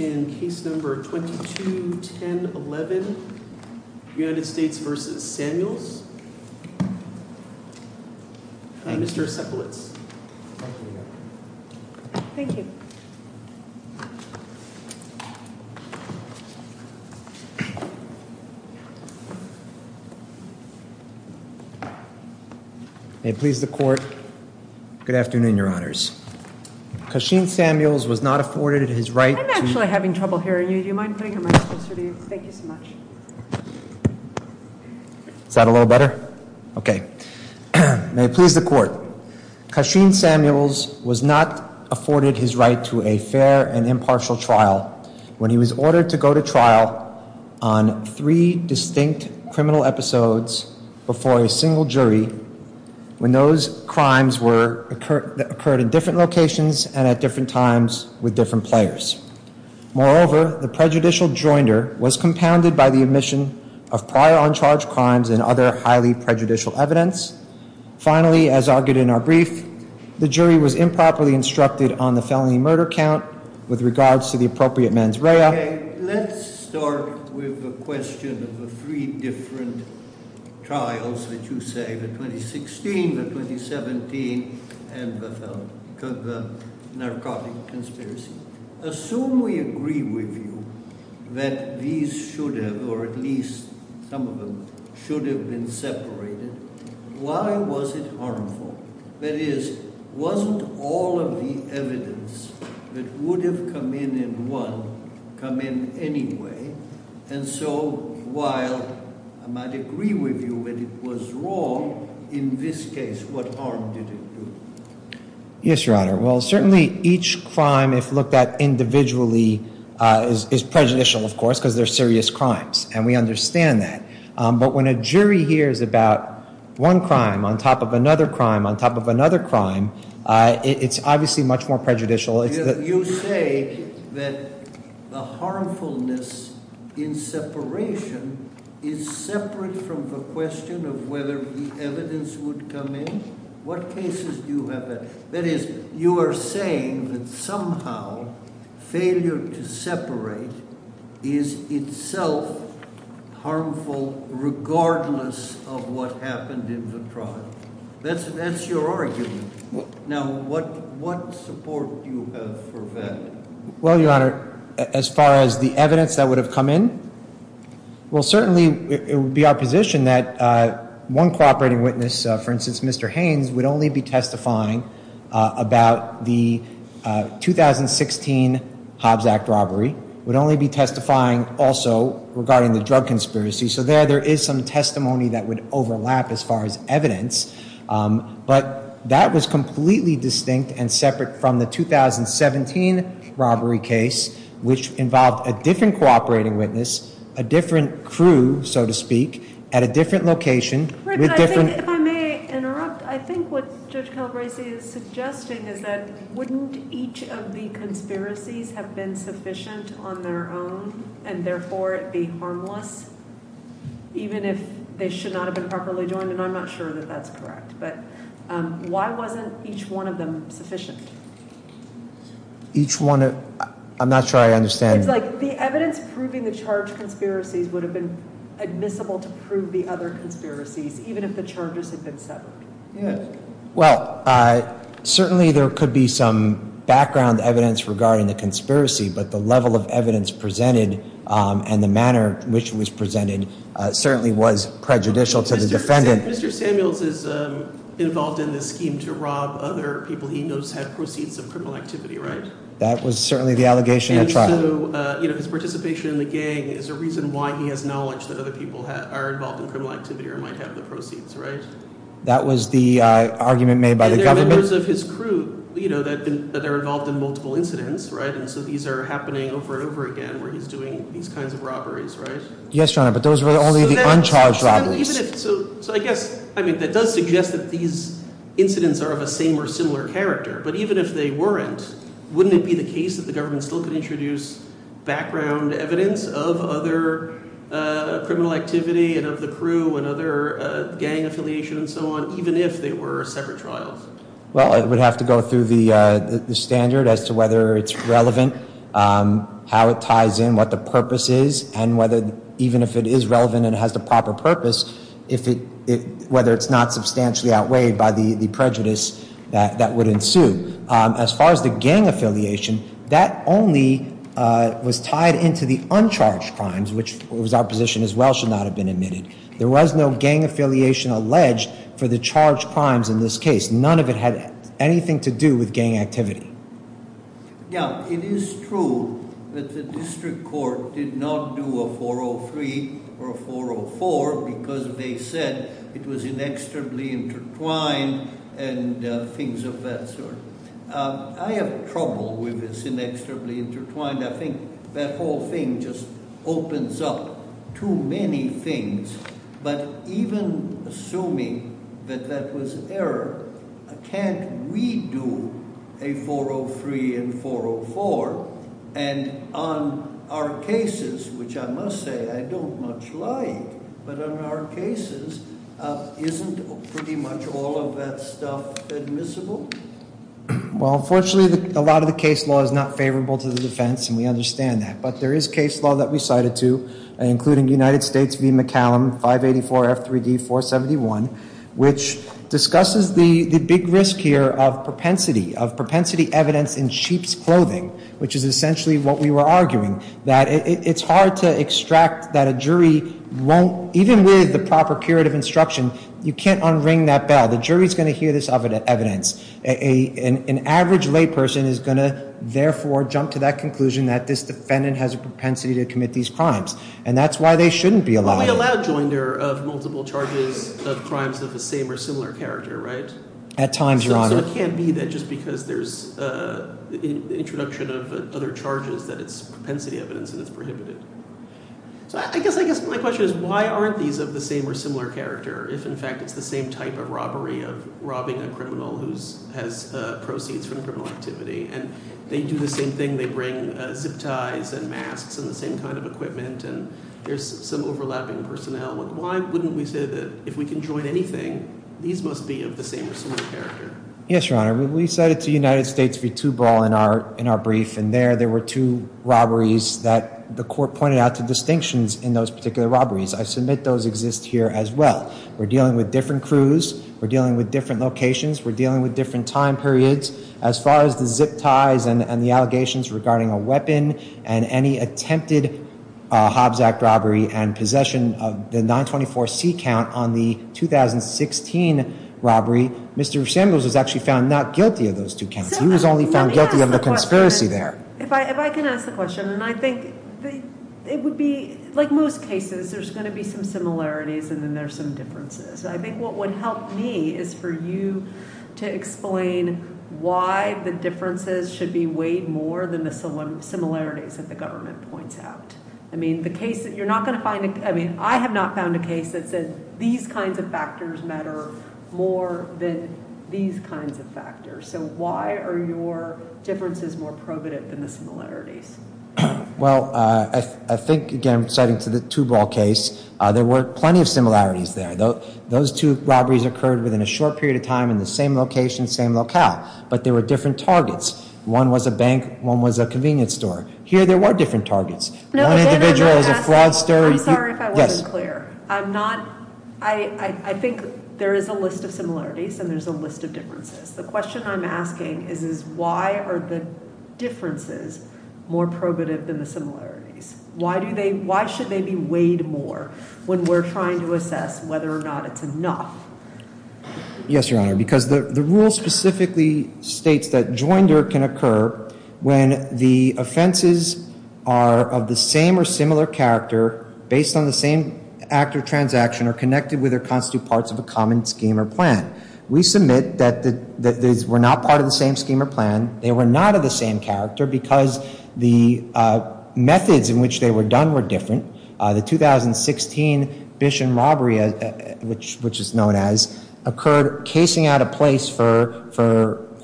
in case number 221011 United States v. Samuels, Mr. Sepulitz. Thank you. May it please the court. Good afternoon, your honors. Kashin Samuels was not afforded his right to... I'm actually having trouble hearing you. Do you mind putting your mic closer to you? Thank you so much. Is that a little better? Okay. May it please the court. Kashin Samuels was not afforded his right to a fair and impartial trial when he was ordered to go to trial on three distinct criminal episodes before a single jury when those crimes occurred in different locations and at different times with different players. Moreover, the prejudicial joinder was compounded by the admission of prior uncharged crimes and other highly prejudicial evidence. Finally, as argued in our brief, the jury was improperly instructed on the felony murder count with regards to the appropriate mens rea. Okay. Let's start with the question of the three different trials that you say, the 2016, the 2017, and the narcotic conspiracy. Assume we agree with you that these should have, or at least some of them, should have been separated. Why was it harmful? That is, wasn't all of the evidence that would have come in and won come in anyway? And so while I might agree with you that it was wrong, in this case, what harm did it do? Yes, Your Honor. Well, certainly each crime, if looked at individually, is prejudicial, of course, because they're serious crimes, and we understand that. But when a jury hears about one crime on top of another crime on top of another crime, it's obviously much more prejudicial. You say that the harmfulness in separation is separate from the question of whether the evidence would come in? What cases do you have? That is, you are saying that somehow failure to separate is itself harmful regardless of what happened in the trial? That's your argument. Now, what support do you have for that? Well, Your Honor, as far as the evidence that would have come in? Well, certainly it would be our position that one cooperating witness, for instance, Mr. Haynes, would only be testifying about the 2016 Hobbs Act robbery, would only be testifying also regarding the drug conspiracy. So there, there is some testimony that would overlap as far as evidence. But that was completely distinct and separate from the 2017 robbery case, which involved a different cooperating witness, a different crew, so to speak, at a different location. Rick, if I may interrupt, I think what Judge Calabresi is suggesting is that wouldn't each of the conspiracies have been sufficient on their own, and therefore it be harmless, even if they should not have been properly joined? And I'm not sure that that's correct. But why wasn't each one of them sufficient? Each one? I'm not sure I understand. It's like the evidence proving the charged conspiracies would have been admissible to prove the other conspiracies, even if the charges had been separate. Well, certainly there could be some background evidence regarding the conspiracy, but the level of evidence presented and the manner in which it was presented certainly was prejudicial to the defendant. Mr. Samuels is involved in this scheme to rob other people he knows have proceeds of criminal activity, right? That was certainly the allegation at trial. And so, you know, his participation in the gang is a reason why he has knowledge that other people are involved in criminal activity or might have the proceeds, right? That was the argument made by the government. And there are members of his crew that are involved in multiple incidents, right? And so these are happening over and over again where he's doing these kinds of robberies, right? Yes, Your Honor, but those were only the uncharged robberies. So I guess – I mean that does suggest that these incidents are of a same or similar character. But even if they weren't, wouldn't it be the case that the government still could introduce background evidence of other criminal activity and of the crew and other gang affiliations and so on, even if they were separate trials? Well, it would have to go through the standard as to whether it's relevant, how it ties in, what the purpose is, and whether – even if it is relevant and has the proper purpose, if it – whether it's not substantially outweighed by the prejudice that would ensue. As far as the gang affiliation, that only was tied into the uncharged crimes, which was our position as well should not have been admitted. There was no gang affiliation alleged for the charged crimes in this case. None of it had anything to do with gang activity. Now, it is true that the district court did not do a 403 or a 404 because they said it was inexorably intertwined and things of that sort. I have trouble with this inexorably intertwined. I think that whole thing just opens up too many things. But even assuming that that was error, can't we do a 403 and 404? And on our cases, which I must say I don't much like, but on our cases, isn't pretty much all of that stuff admissible? Well, unfortunately, a lot of the case law is not favorable to the defense, and we understand that. But there is case law that we cited, too, including United States v. McCallum 584 F3D 471, which discusses the big risk here of propensity, of propensity evidence in sheep's clothing, which is essentially what we were arguing. That it's hard to extract that a jury won't – even with the proper curative instruction, you can't unring that bell. The jury is going to hear this evidence. An average layperson is going to, therefore, jump to that conclusion that this defendant has a propensity to commit these crimes. And that's why they shouldn't be allowed. Well, we allow joinder of multiple charges of crimes of the same or similar character, right? At times, Your Honor. So it can't be that just because there's introduction of other charges that it's propensity evidence and it's prohibited. So I guess my question is why aren't these of the same or similar character if, in fact, it's the same type of robbery of robbing a criminal who has proceeds from a criminal activity? And they do the same thing. They bring zip ties and masks and the same kind of equipment, and there's some overlapping personnel. Why wouldn't we say that if we can join anything, these must be of the same or similar character? Yes, Your Honor. We said it's a United States v. Tuberall in our brief. And there, there were two robberies that the court pointed out to distinctions in those particular robberies. I submit those exist here as well. We're dealing with different crews. We're dealing with different locations. We're dealing with different time periods. As far as the zip ties and the allegations regarding a weapon and any attempted Hobbs Act robbery and possession of the 924C count on the 2016 robbery, Mr. Samuels was actually found not guilty of those two counts. He was only found guilty of the conspiracy there. If I can ask the question, and I think it would be like most cases, there's going to be some similarities and then there's some differences. I think what would help me is for you to explain why the differences should be weighed more than the similarities that the government points out. I mean, the case that you're not going to find, I mean, I have not found a case that said these kinds of factors matter more than these kinds of factors. So why are your differences more probative than the similarities? Well, I think, again, citing to the Tuberall case, there were plenty of similarities there. Those two robberies occurred within a short period of time in the same location, same locale. But there were different targets. One was a bank. One was a convenience store. Here there were different targets. One individual was a fraudster. I'm sorry if I wasn't clear. I think there is a list of similarities and there's a list of differences. The question I'm asking is why are the differences more probative than the similarities? Why should they be weighed more when we're trying to assess whether or not it's enough? Yes, Your Honor, because the rule specifically states that joinder can occur when the offenses are of the same or similar character, based on the same act or transaction, or connected with or constitute parts of a common scheme or plan. We submit that these were not part of the same scheme or plan. They were not of the same character because the methods in which they were done were different. The 2016 Bishon robbery, which is known as, occurred casing out a place for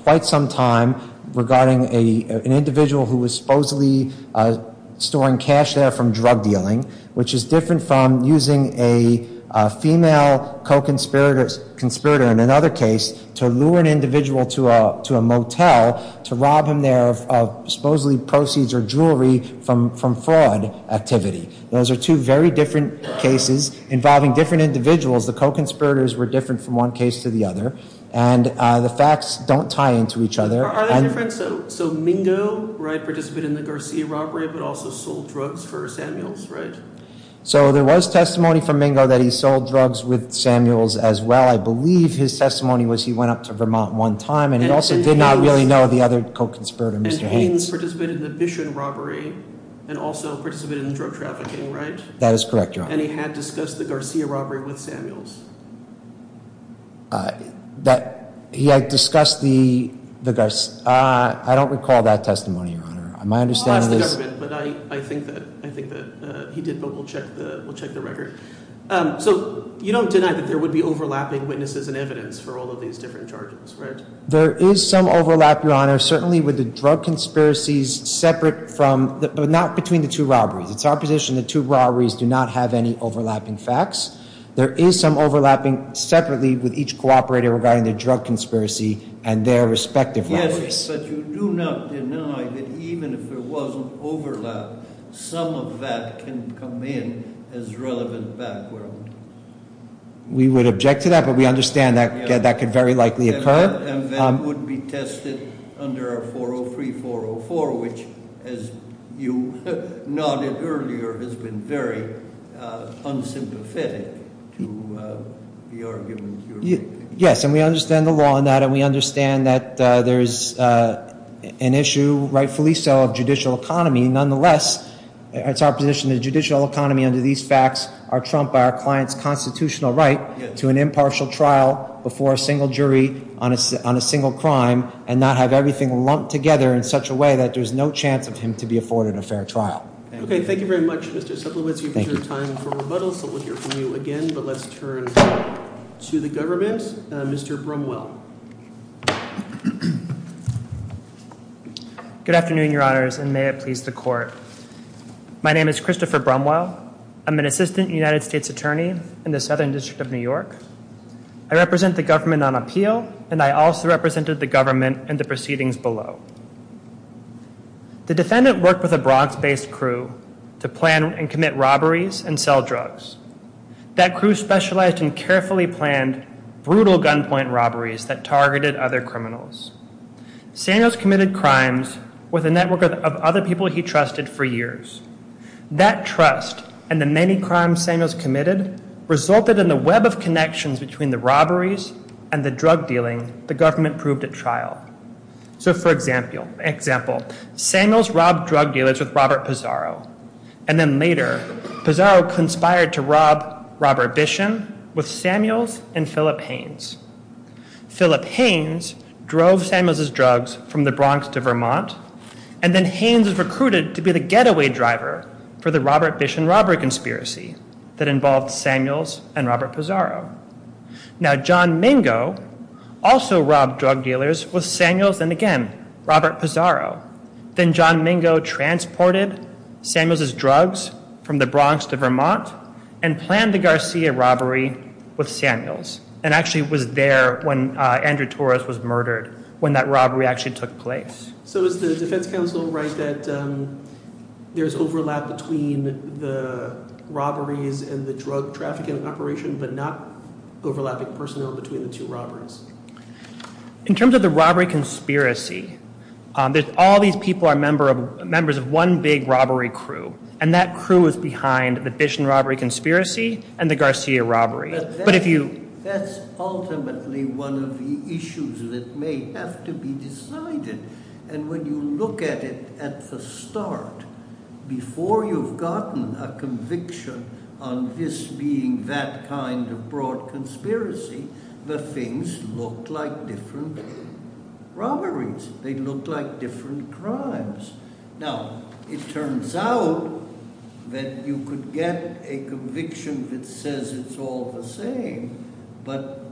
quite some time regarding an individual who was supposedly storing cash there from drug dealing, which is different from using a female co-conspirator in another case to lure an individual to a motel to rob him there of supposedly proceeds or jewelry from fraud activity. Those are two very different cases involving different individuals. The co-conspirators were different from one case to the other. And the facts don't tie into each other. Are they different? So Mingo, right, participated in the Garcia robbery, but also sold drugs for Samuels, right? So there was testimony from Mingo that he sold drugs with Samuels as well. I believe his testimony was he went up to Vermont one time. And he also did not really know the other co-conspirator, Mr. Haynes. Mr. Haynes participated in the Bishon robbery and also participated in drug trafficking, right? That is correct, Your Honor. And he had discussed the Garcia robbery with Samuels. He had discussed the Garcia. I don't recall that testimony, Your Honor. My understanding is. I'll ask the government, but I think that he did, but we'll check the record. So you don't deny that there would be overlapping witnesses and evidence for all of these different charges, right? There is some overlap, Your Honor, certainly with the drug conspiracies separate from, but not between the two robberies. It's our position the two robberies do not have any overlapping facts. There is some overlapping separately with each co-operator regarding the drug conspiracy and their respective robberies. Yes, but you do not deny that even if there wasn't overlap, some of that can come in as relevant background. We would object to that, but we understand that that could very likely occur. And that would be tested under our 403-404, which, as you nodded earlier, has been very unsympathetic to the arguments you're making. Yes, and we understand the law on that, and we understand that there is an issue, rightfully so, of judicial economy. Nonetheless, it's our position the judicial economy under these facts are trumped by our client's constitutional right to an impartial trial before a single jury on a single crime and not have everything lumped together in such a way that there's no chance of him to be afforded a fair trial. Thank you. Okay, thank you very much, Mr. Cepulonci, for your time and for rebuttal. Thank you. So we'll hear from you again, but let's turn to the government. Mr. Brumwell. Good afternoon, Your Honors, and may it please the Court. My name is Christopher Brumwell. I'm an Assistant United States Attorney in the Southern District of New York. I represent the government on appeal, and I also represented the government in the proceedings below. The defendant worked with a Bronx-based crew to plan and commit robberies and sell drugs. That crew specialized in carefully planned, brutal gunpoint robberies that targeted other criminals. Samuels committed crimes with a network of other people he trusted for years. That trust and the many crimes Samuels committed resulted in the web of connections between the robberies and the drug dealing the government proved at trial. So, for example, Samuels robbed drug dealers with Robert Pizarro, and then later Pizarro conspired to rob Robert Bishon with Samuels and Philip Haynes. Philip Haynes drove Samuels' drugs from the Bronx to Vermont, and then Haynes was recruited to be the getaway driver for the Robert Bishon robbery conspiracy that involved Samuels and Robert Pizarro. Now, John Mingo also robbed drug dealers with Samuels and, again, Robert Pizarro. Then John Mingo transported Samuels' drugs from the Bronx to Vermont and planned the Garcia robbery with Samuels, and actually was there when Andrew Torres was murdered, when that robbery actually took place. So is the defense counsel right that there's overlap between the robberies and the drug trafficking operation, but not overlapping personnel between the two robberies? In terms of the robbery conspiracy, all these people are members of one big robbery crew, and that crew is behind the Bishon robbery conspiracy and the Garcia robbery. That's ultimately one of the issues that may have to be decided, and when you look at it at the start, before you've gotten a conviction on this being that kind of broad conspiracy, the things look like different robberies. They look like different crimes. Now, it turns out that you could get a conviction that says it's all the same, but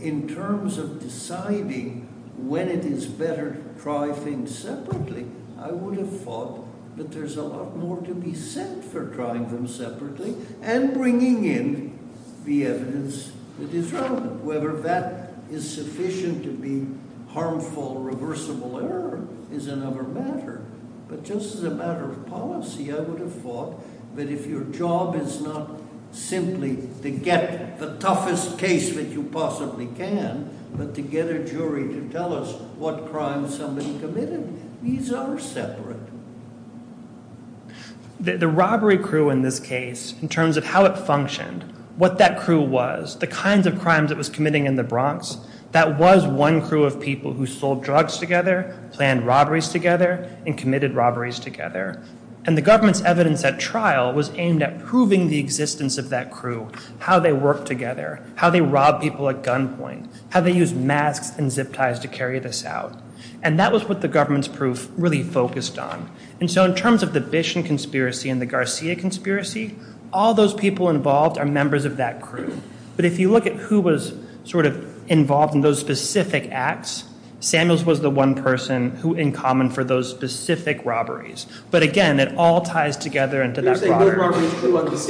in terms of deciding when it is better to try things separately, I would have thought that there's a lot more to be said for trying them separately and bringing in the evidence that is relevant, whether that is sufficient to be harmful, reversible error is another matter. But just as a matter of policy, I would have thought that if your job is not simply to get the toughest case that you possibly can, but to get a jury to tell us what crimes somebody committed, these are separate. The robbery crew in this case, in terms of how it functioned, what that crew was, the kinds of crimes it was committing in the Bronx, that was one crew of people who sold drugs together, planned robberies together, and committed robberies together. And the government's evidence at trial was aimed at proving the existence of that crew, how they worked together, how they robbed people at gunpoint, how they used masks and zip ties to carry this out. And that was what the government's proof really focused on. And so in terms of the Bishon conspiracy and the Garcia conspiracy, all those people involved are members of that crew. But if you look at who was sort of involved in those specific acts, Samuels was the one person who in common for those specific robberies. But again, it all ties together into that. That's exactly right, Judge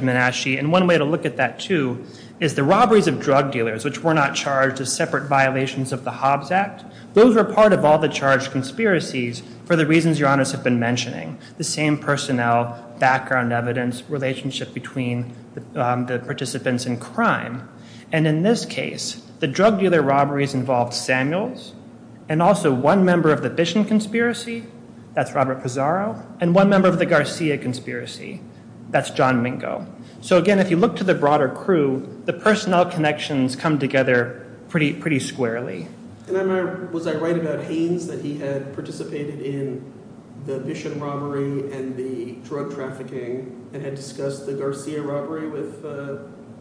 Manasci. And one way to look at that, too, is the robberies of drug dealers, which were not charged as separate violations of the Hobbs Act. Those were part of all the charged conspiracies for the reasons Your Honors have been mentioning, the same personnel, background evidence, relationship between the participants in crime. And in this case, the drug dealer robberies involved Samuels and also one member of the Bishon conspiracy, that's Robert Pizarro, and one member of the Garcia conspiracy, that's John Mingo. So again, if you look to the broader crew, the personnel connections come together pretty squarely. Was I right about Haynes, that he had participated in the Bishon robbery and the drug trafficking and had discussed the Garcia robbery with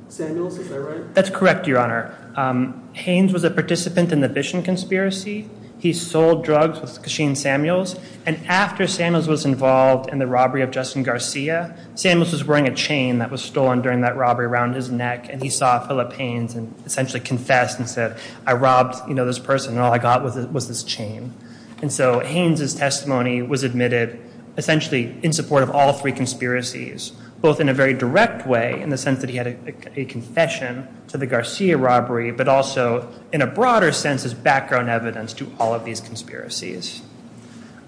Samuels? Is that right? That's correct, Your Honor. Haynes was a participant in the Bishon conspiracy. He sold drugs with Kashin Samuels. And after Samuels was involved in the robbery of Justin Garcia, Samuels was wearing a chain that was stolen during that robbery around his neck. And he saw Philip Haynes and essentially confessed and said, I robbed this person and all I got was this chain. And so Haynes' testimony was admitted essentially in support of all three conspiracies, both in a very direct way in the sense that he had a confession to the Garcia robbery, but also in a broader sense as background evidence to all of these conspiracies.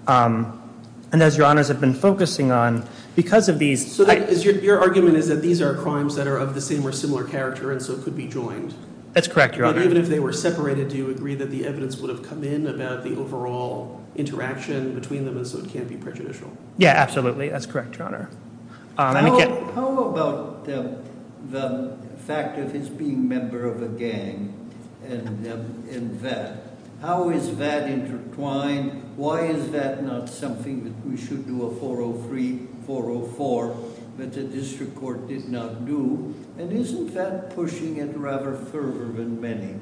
And as Your Honors have been focusing on, because of these— Your argument is that these are crimes that are of the same or similar character and so could be joined. That's correct, Your Honor. But even if they were separated, do you agree that the evidence would have come in about the overall interaction between them and so it can't be prejudicial? Yeah, absolutely. That's correct, Your Honor. How about the fact of his being a member of a gang and that? How is that intertwined? Why is that not something that we should do a 403, 404 that the district court did not do? And isn't that pushing it rather further than many?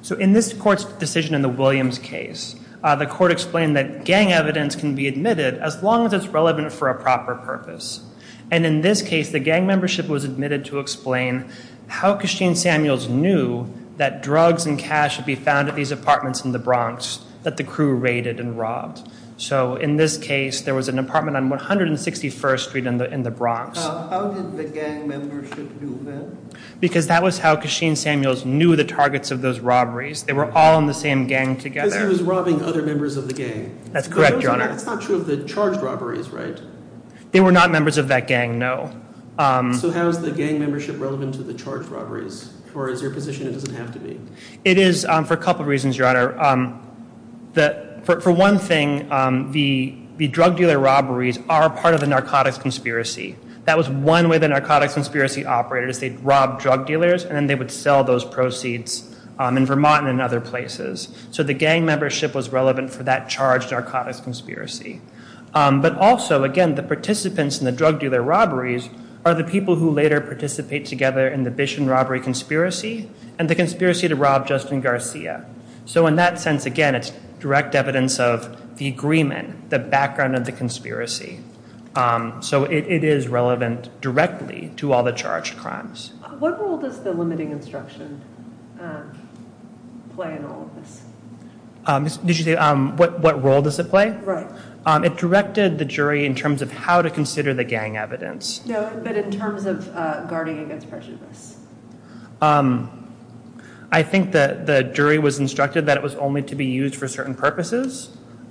So in this court's decision in the Williams case, the court explained that gang evidence can be admitted as long as it's relevant for a proper purpose. And in this case, the gang membership was admitted to explain how Kasheen Samuels knew that drugs and cash would be found at these apartments in the Bronx that the crew raided and robbed. So in this case, there was an apartment on 161st Street in the Bronx. How did the gang membership do that? Because that was how Kasheen Samuels knew the targets of those robberies. They were all in the same gang together. Because he was robbing other members of the gang. That's correct, Your Honor. But that's not true of the charged robberies, right? They were not members of that gang, no. So how is the gang membership relevant to the charged robberies? Or is there a position it doesn't have to be? It is for a couple of reasons, Your Honor. For one thing, the drug dealer robberies are part of the narcotics conspiracy. That was one way the narcotics conspiracy operated is they'd rob drug dealers, and then they would sell those proceeds in Vermont and in other places. So the gang membership was relevant for that charged narcotics conspiracy. But also, again, the participants in the drug dealer robberies are the people who later participate together in the Bishon robbery conspiracy and the conspiracy to rob Justin Garcia. So in that sense, again, it's direct evidence of the agreement, the background of the conspiracy. So it is relevant directly to all the charged crimes. What role does the limiting instruction play in all of this? Did you say what role does it play? Right. It directed the jury in terms of how to consider the gang evidence. No, but in terms of guarding against prejudice. I think the jury was instructed that it was only to be used for certain purposes.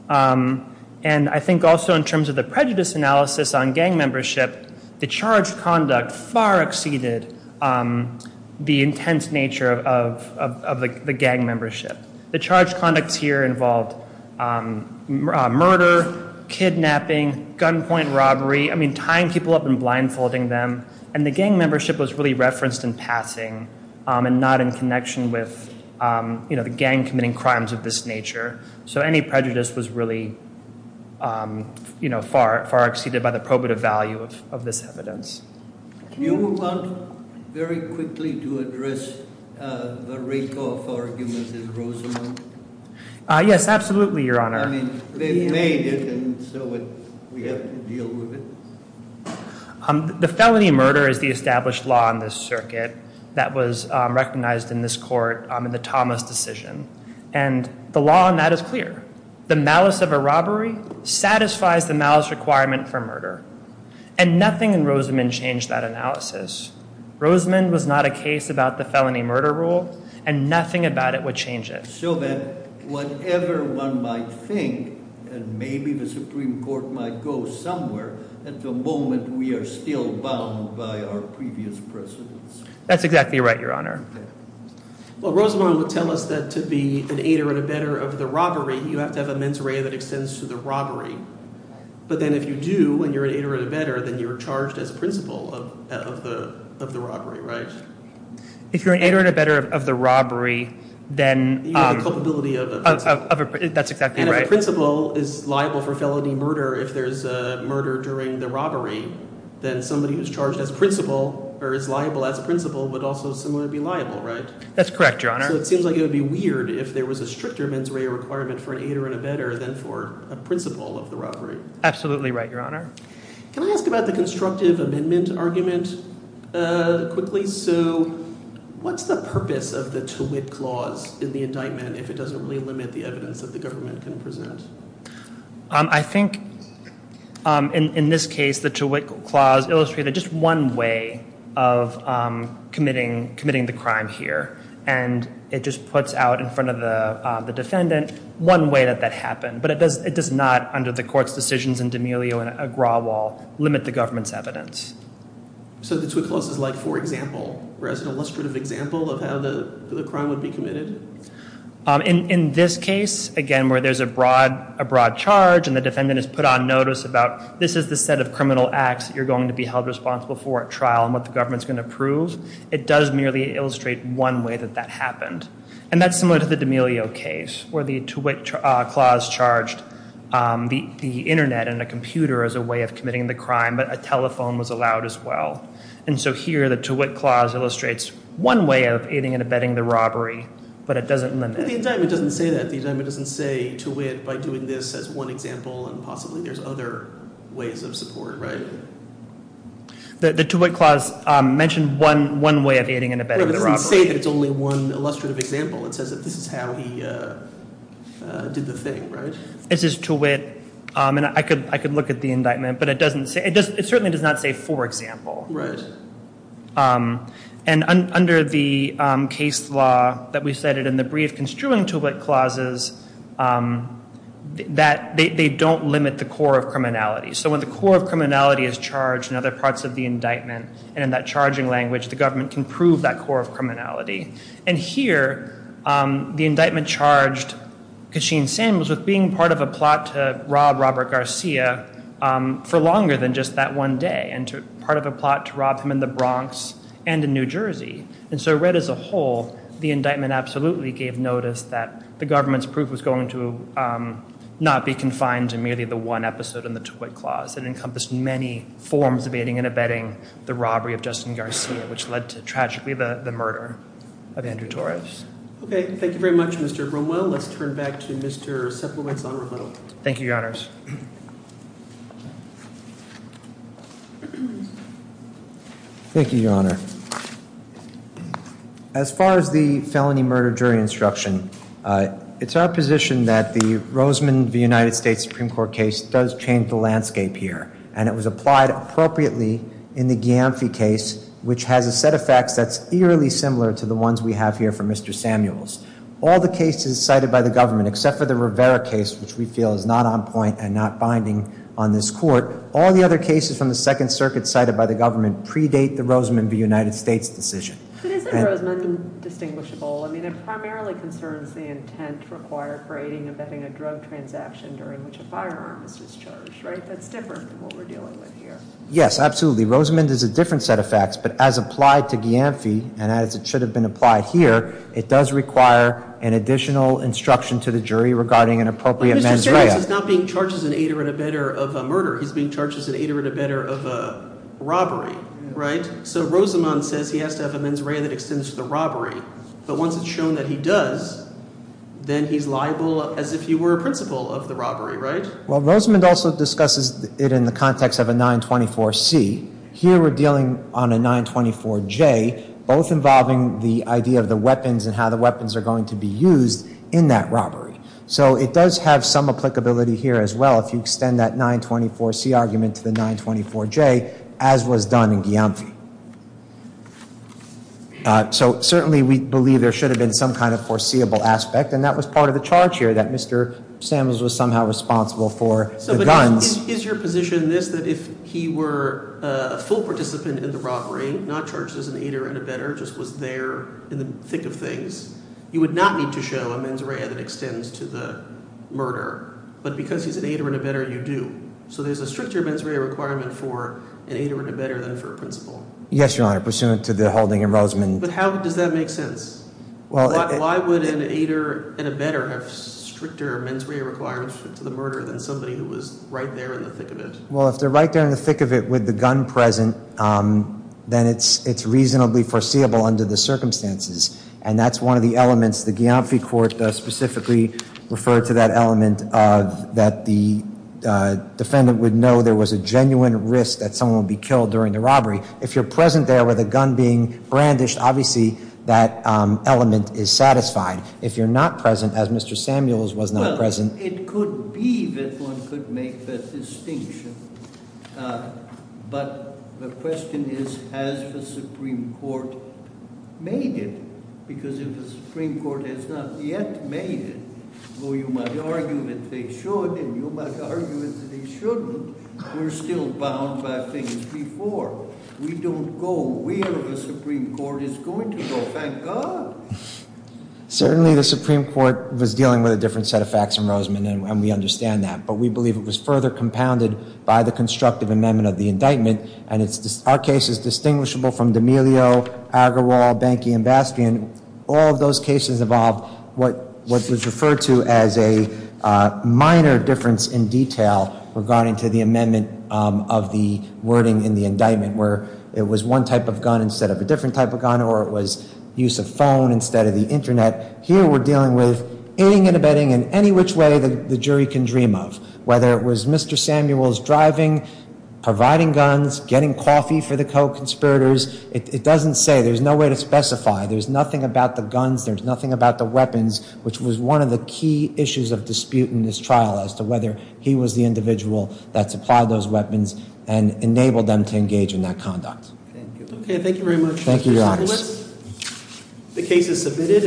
And I think also in terms of the prejudice analysis on gang membership, the charged conduct far exceeded the intense nature of the gang membership. The charged conducts here involved murder, kidnapping, gunpoint robbery. I mean, tying people up and blindfolding them. And the gang membership was really referenced in passing and not in connection with the gang committing crimes of this nature. So any prejudice was really far exceeded by the probative value of this evidence. Do you want very quickly to address the Rakoff arguments in Rosamond? Yes, absolutely, Your Honor. I mean, they made it, and so we have to deal with it. The felony murder is the established law in this circuit that was recognized in this court in the Thomas decision. And the law on that is clear. The malice of a robbery satisfies the malice requirement for murder. And nothing in Rosamond changed that analysis. Rosamond was not a case about the felony murder rule, and nothing about it would change it. So that whatever one might think, and maybe the Supreme Court might go somewhere, at the moment we are still bound by our previous precedence. That's exactly right, Your Honor. Well, Rosamond would tell us that to be an aider and abetter of the robbery, you have to have a mens rea that extends to the robbery. But then if you do, and you're an aider and abetter, then you're charged as principal of the robbery, right? If you're an aider and abetter of the robbery, then— You have a culpability of a principal. That's exactly right. And if a principal is liable for felony murder, if there's a murder during the robbery, then somebody who is charged as principal would also similarly be liable, right? That's correct, Your Honor. So it seems like it would be weird if there was a stricter mens rea requirement for an aider and abetter than for a principal of the robbery. Absolutely right, Your Honor. Can I ask about the constructive amendment argument quickly? So what's the purpose of the to wit clause in the indictment if it doesn't really limit the evidence that the government can present? I think in this case, the to wit clause illustrated just one way of committing the crime here. And it just puts out in front of the defendant one way that that happened. But it does not, under the court's decisions in D'Amelio and Agrawal, limit the government's evidence. So the to wit clause is like for example, or as an illustrative example of how the crime would be committed? In this case, again, where there's a broad charge and the defendant is put on notice about this is the set of criminal acts that you're going to be held responsible for at trial and what the government's going to prove, it does merely illustrate one way that that happened. And that's similar to the D'Amelio case where the to wit clause charged the Internet and a computer as a way of committing the crime, but a telephone was allowed as well. And so here the to wit clause illustrates one way of aiding and abetting the robbery, but it doesn't limit. The indictment doesn't say that. The indictment doesn't say to wit by doing this as one example and possibly there's other ways of support, right? The to wit clause mentioned one way of aiding and abetting the robbery. But it doesn't say that it's only one illustrative example. It says that this is how he did the thing, right? This is to wit, and I could look at the indictment, but it certainly does not say for example. And under the case law that we cited in the brief construing to wit clauses, they don't limit the core of criminality. So when the core of criminality is charged in other parts of the indictment and in that charging language, the government can prove that core of criminality. And here the indictment charged Kachine Samuels with being part of a plot to rob Robert Garcia for longer than just that one day and part of a plot to rob him in the Bronx and in New Jersey. And so read as a whole, the indictment absolutely gave notice that the government's proof was going to not be confined to merely the one episode in the to wit clause and encompassed many forms of aiding and abetting the robbery of Justin Garcia, which led to tragically the murder of Andrew Torres. Okay. Thank you very much, Mr. Bromwell. Let's turn back to Mr. Sepulveda. Thank you, Your Honors. Thank you, Your Honor. As far as the felony murder jury instruction, it's our position that the Roseman v. United States Supreme Court case does change the landscape here, and it was applied appropriately in the Giamfi case, which has a set of facts that's eerily similar to the ones we have here for Mr. Samuels. All the cases cited by the government, except for the Rivera case, which we feel is not on point and not binding on this court, all the other cases from the Second Circuit cited by the government predate the Roseman v. United States decision. But isn't Roseman distinguishable? I mean, it primarily concerns the intent required for aiding and abetting a drug transaction during which a firearm is discharged, right? That's different from what we're dealing with here. Yes, absolutely. Roseman is a different set of facts, but as applied to Giamfi, and as it should have been applied here, it does require an additional instruction to the jury regarding an appropriate mens rea. Mr. Samuels is not being charged as an aider and abetter of a murder. He's being charged as an aider and abetter of a robbery, right? So Roseman says he has to have a mens rea that extends to the robbery, but once it's shown that he does, then he's liable as if he were a principal of the robbery, right? Well, Roseman also discusses it in the context of a 924C. Here we're dealing on a 924J, both involving the idea of the weapons and how the weapons are going to be used in that robbery. So it does have some applicability here as well if you extend that 924C argument to the 924J, as was done in Giamfi. So certainly we believe there should have been some kind of foreseeable aspect, and that was part of the charge here that Mr. Samuels was somehow responsible for the guns. So is your position this, that if he were a full participant in the robbery, not charged as an aider and abetter, just was there in the thick of things, you would not need to show a mens rea that extends to the murder, but because he's an aider and abetter, you do. So there's a stricter mens rea requirement for an aider and abetter than for a principal. Yes, Your Honor, pursuant to the holding in Roseman. But how does that make sense? Why would an aider and abetter have stricter mens rea requirements to the murder than somebody who was right there in the thick of it? Well, if they're right there in the thick of it with the gun present, then it's reasonably foreseeable under the circumstances, and that's one of the elements the Giamfi court specifically referred to that element that the defendant would know there was a genuine risk that someone would be killed during the robbery. If you're present there with a gun being brandished, obviously that element is satisfied. If you're not present, as Mr. Samuels was not present. Well, it could be that one could make that distinction, but the question is, has the Supreme Court made it? Because if the Supreme Court has not yet made it, though you might argue that they should and you might argue that they shouldn't, we're still bound by things before. We don't go where the Supreme Court is going to go, thank God. Certainly the Supreme Court was dealing with a different set of facts in Roseman, and we understand that. But we believe it was further compounded by the constructive amendment of the indictment, and our case is distinguishable from D'Amelio, Agrawal, Bankey, and Bastian. All of those cases involved what was referred to as a minor difference in detail regarding to the amendment of the wording in the indictment, where it was one type of gun instead of a different type of gun, or it was use of phone instead of the Internet. Here we're dealing with aiding and abetting in any which way the jury can dream of, whether it was Mr. Samuels driving, providing guns, getting coffee for the co-conspirators. It doesn't say, there's no way to specify. There's nothing about the guns, there's nothing about the weapons, which was one of the key issues of dispute in this trial as to whether he was the individual that supplied those weapons and enabled them to engage in that conduct. Thank you. Okay, thank you very much. Thank you, Your Honor. The case is submitted.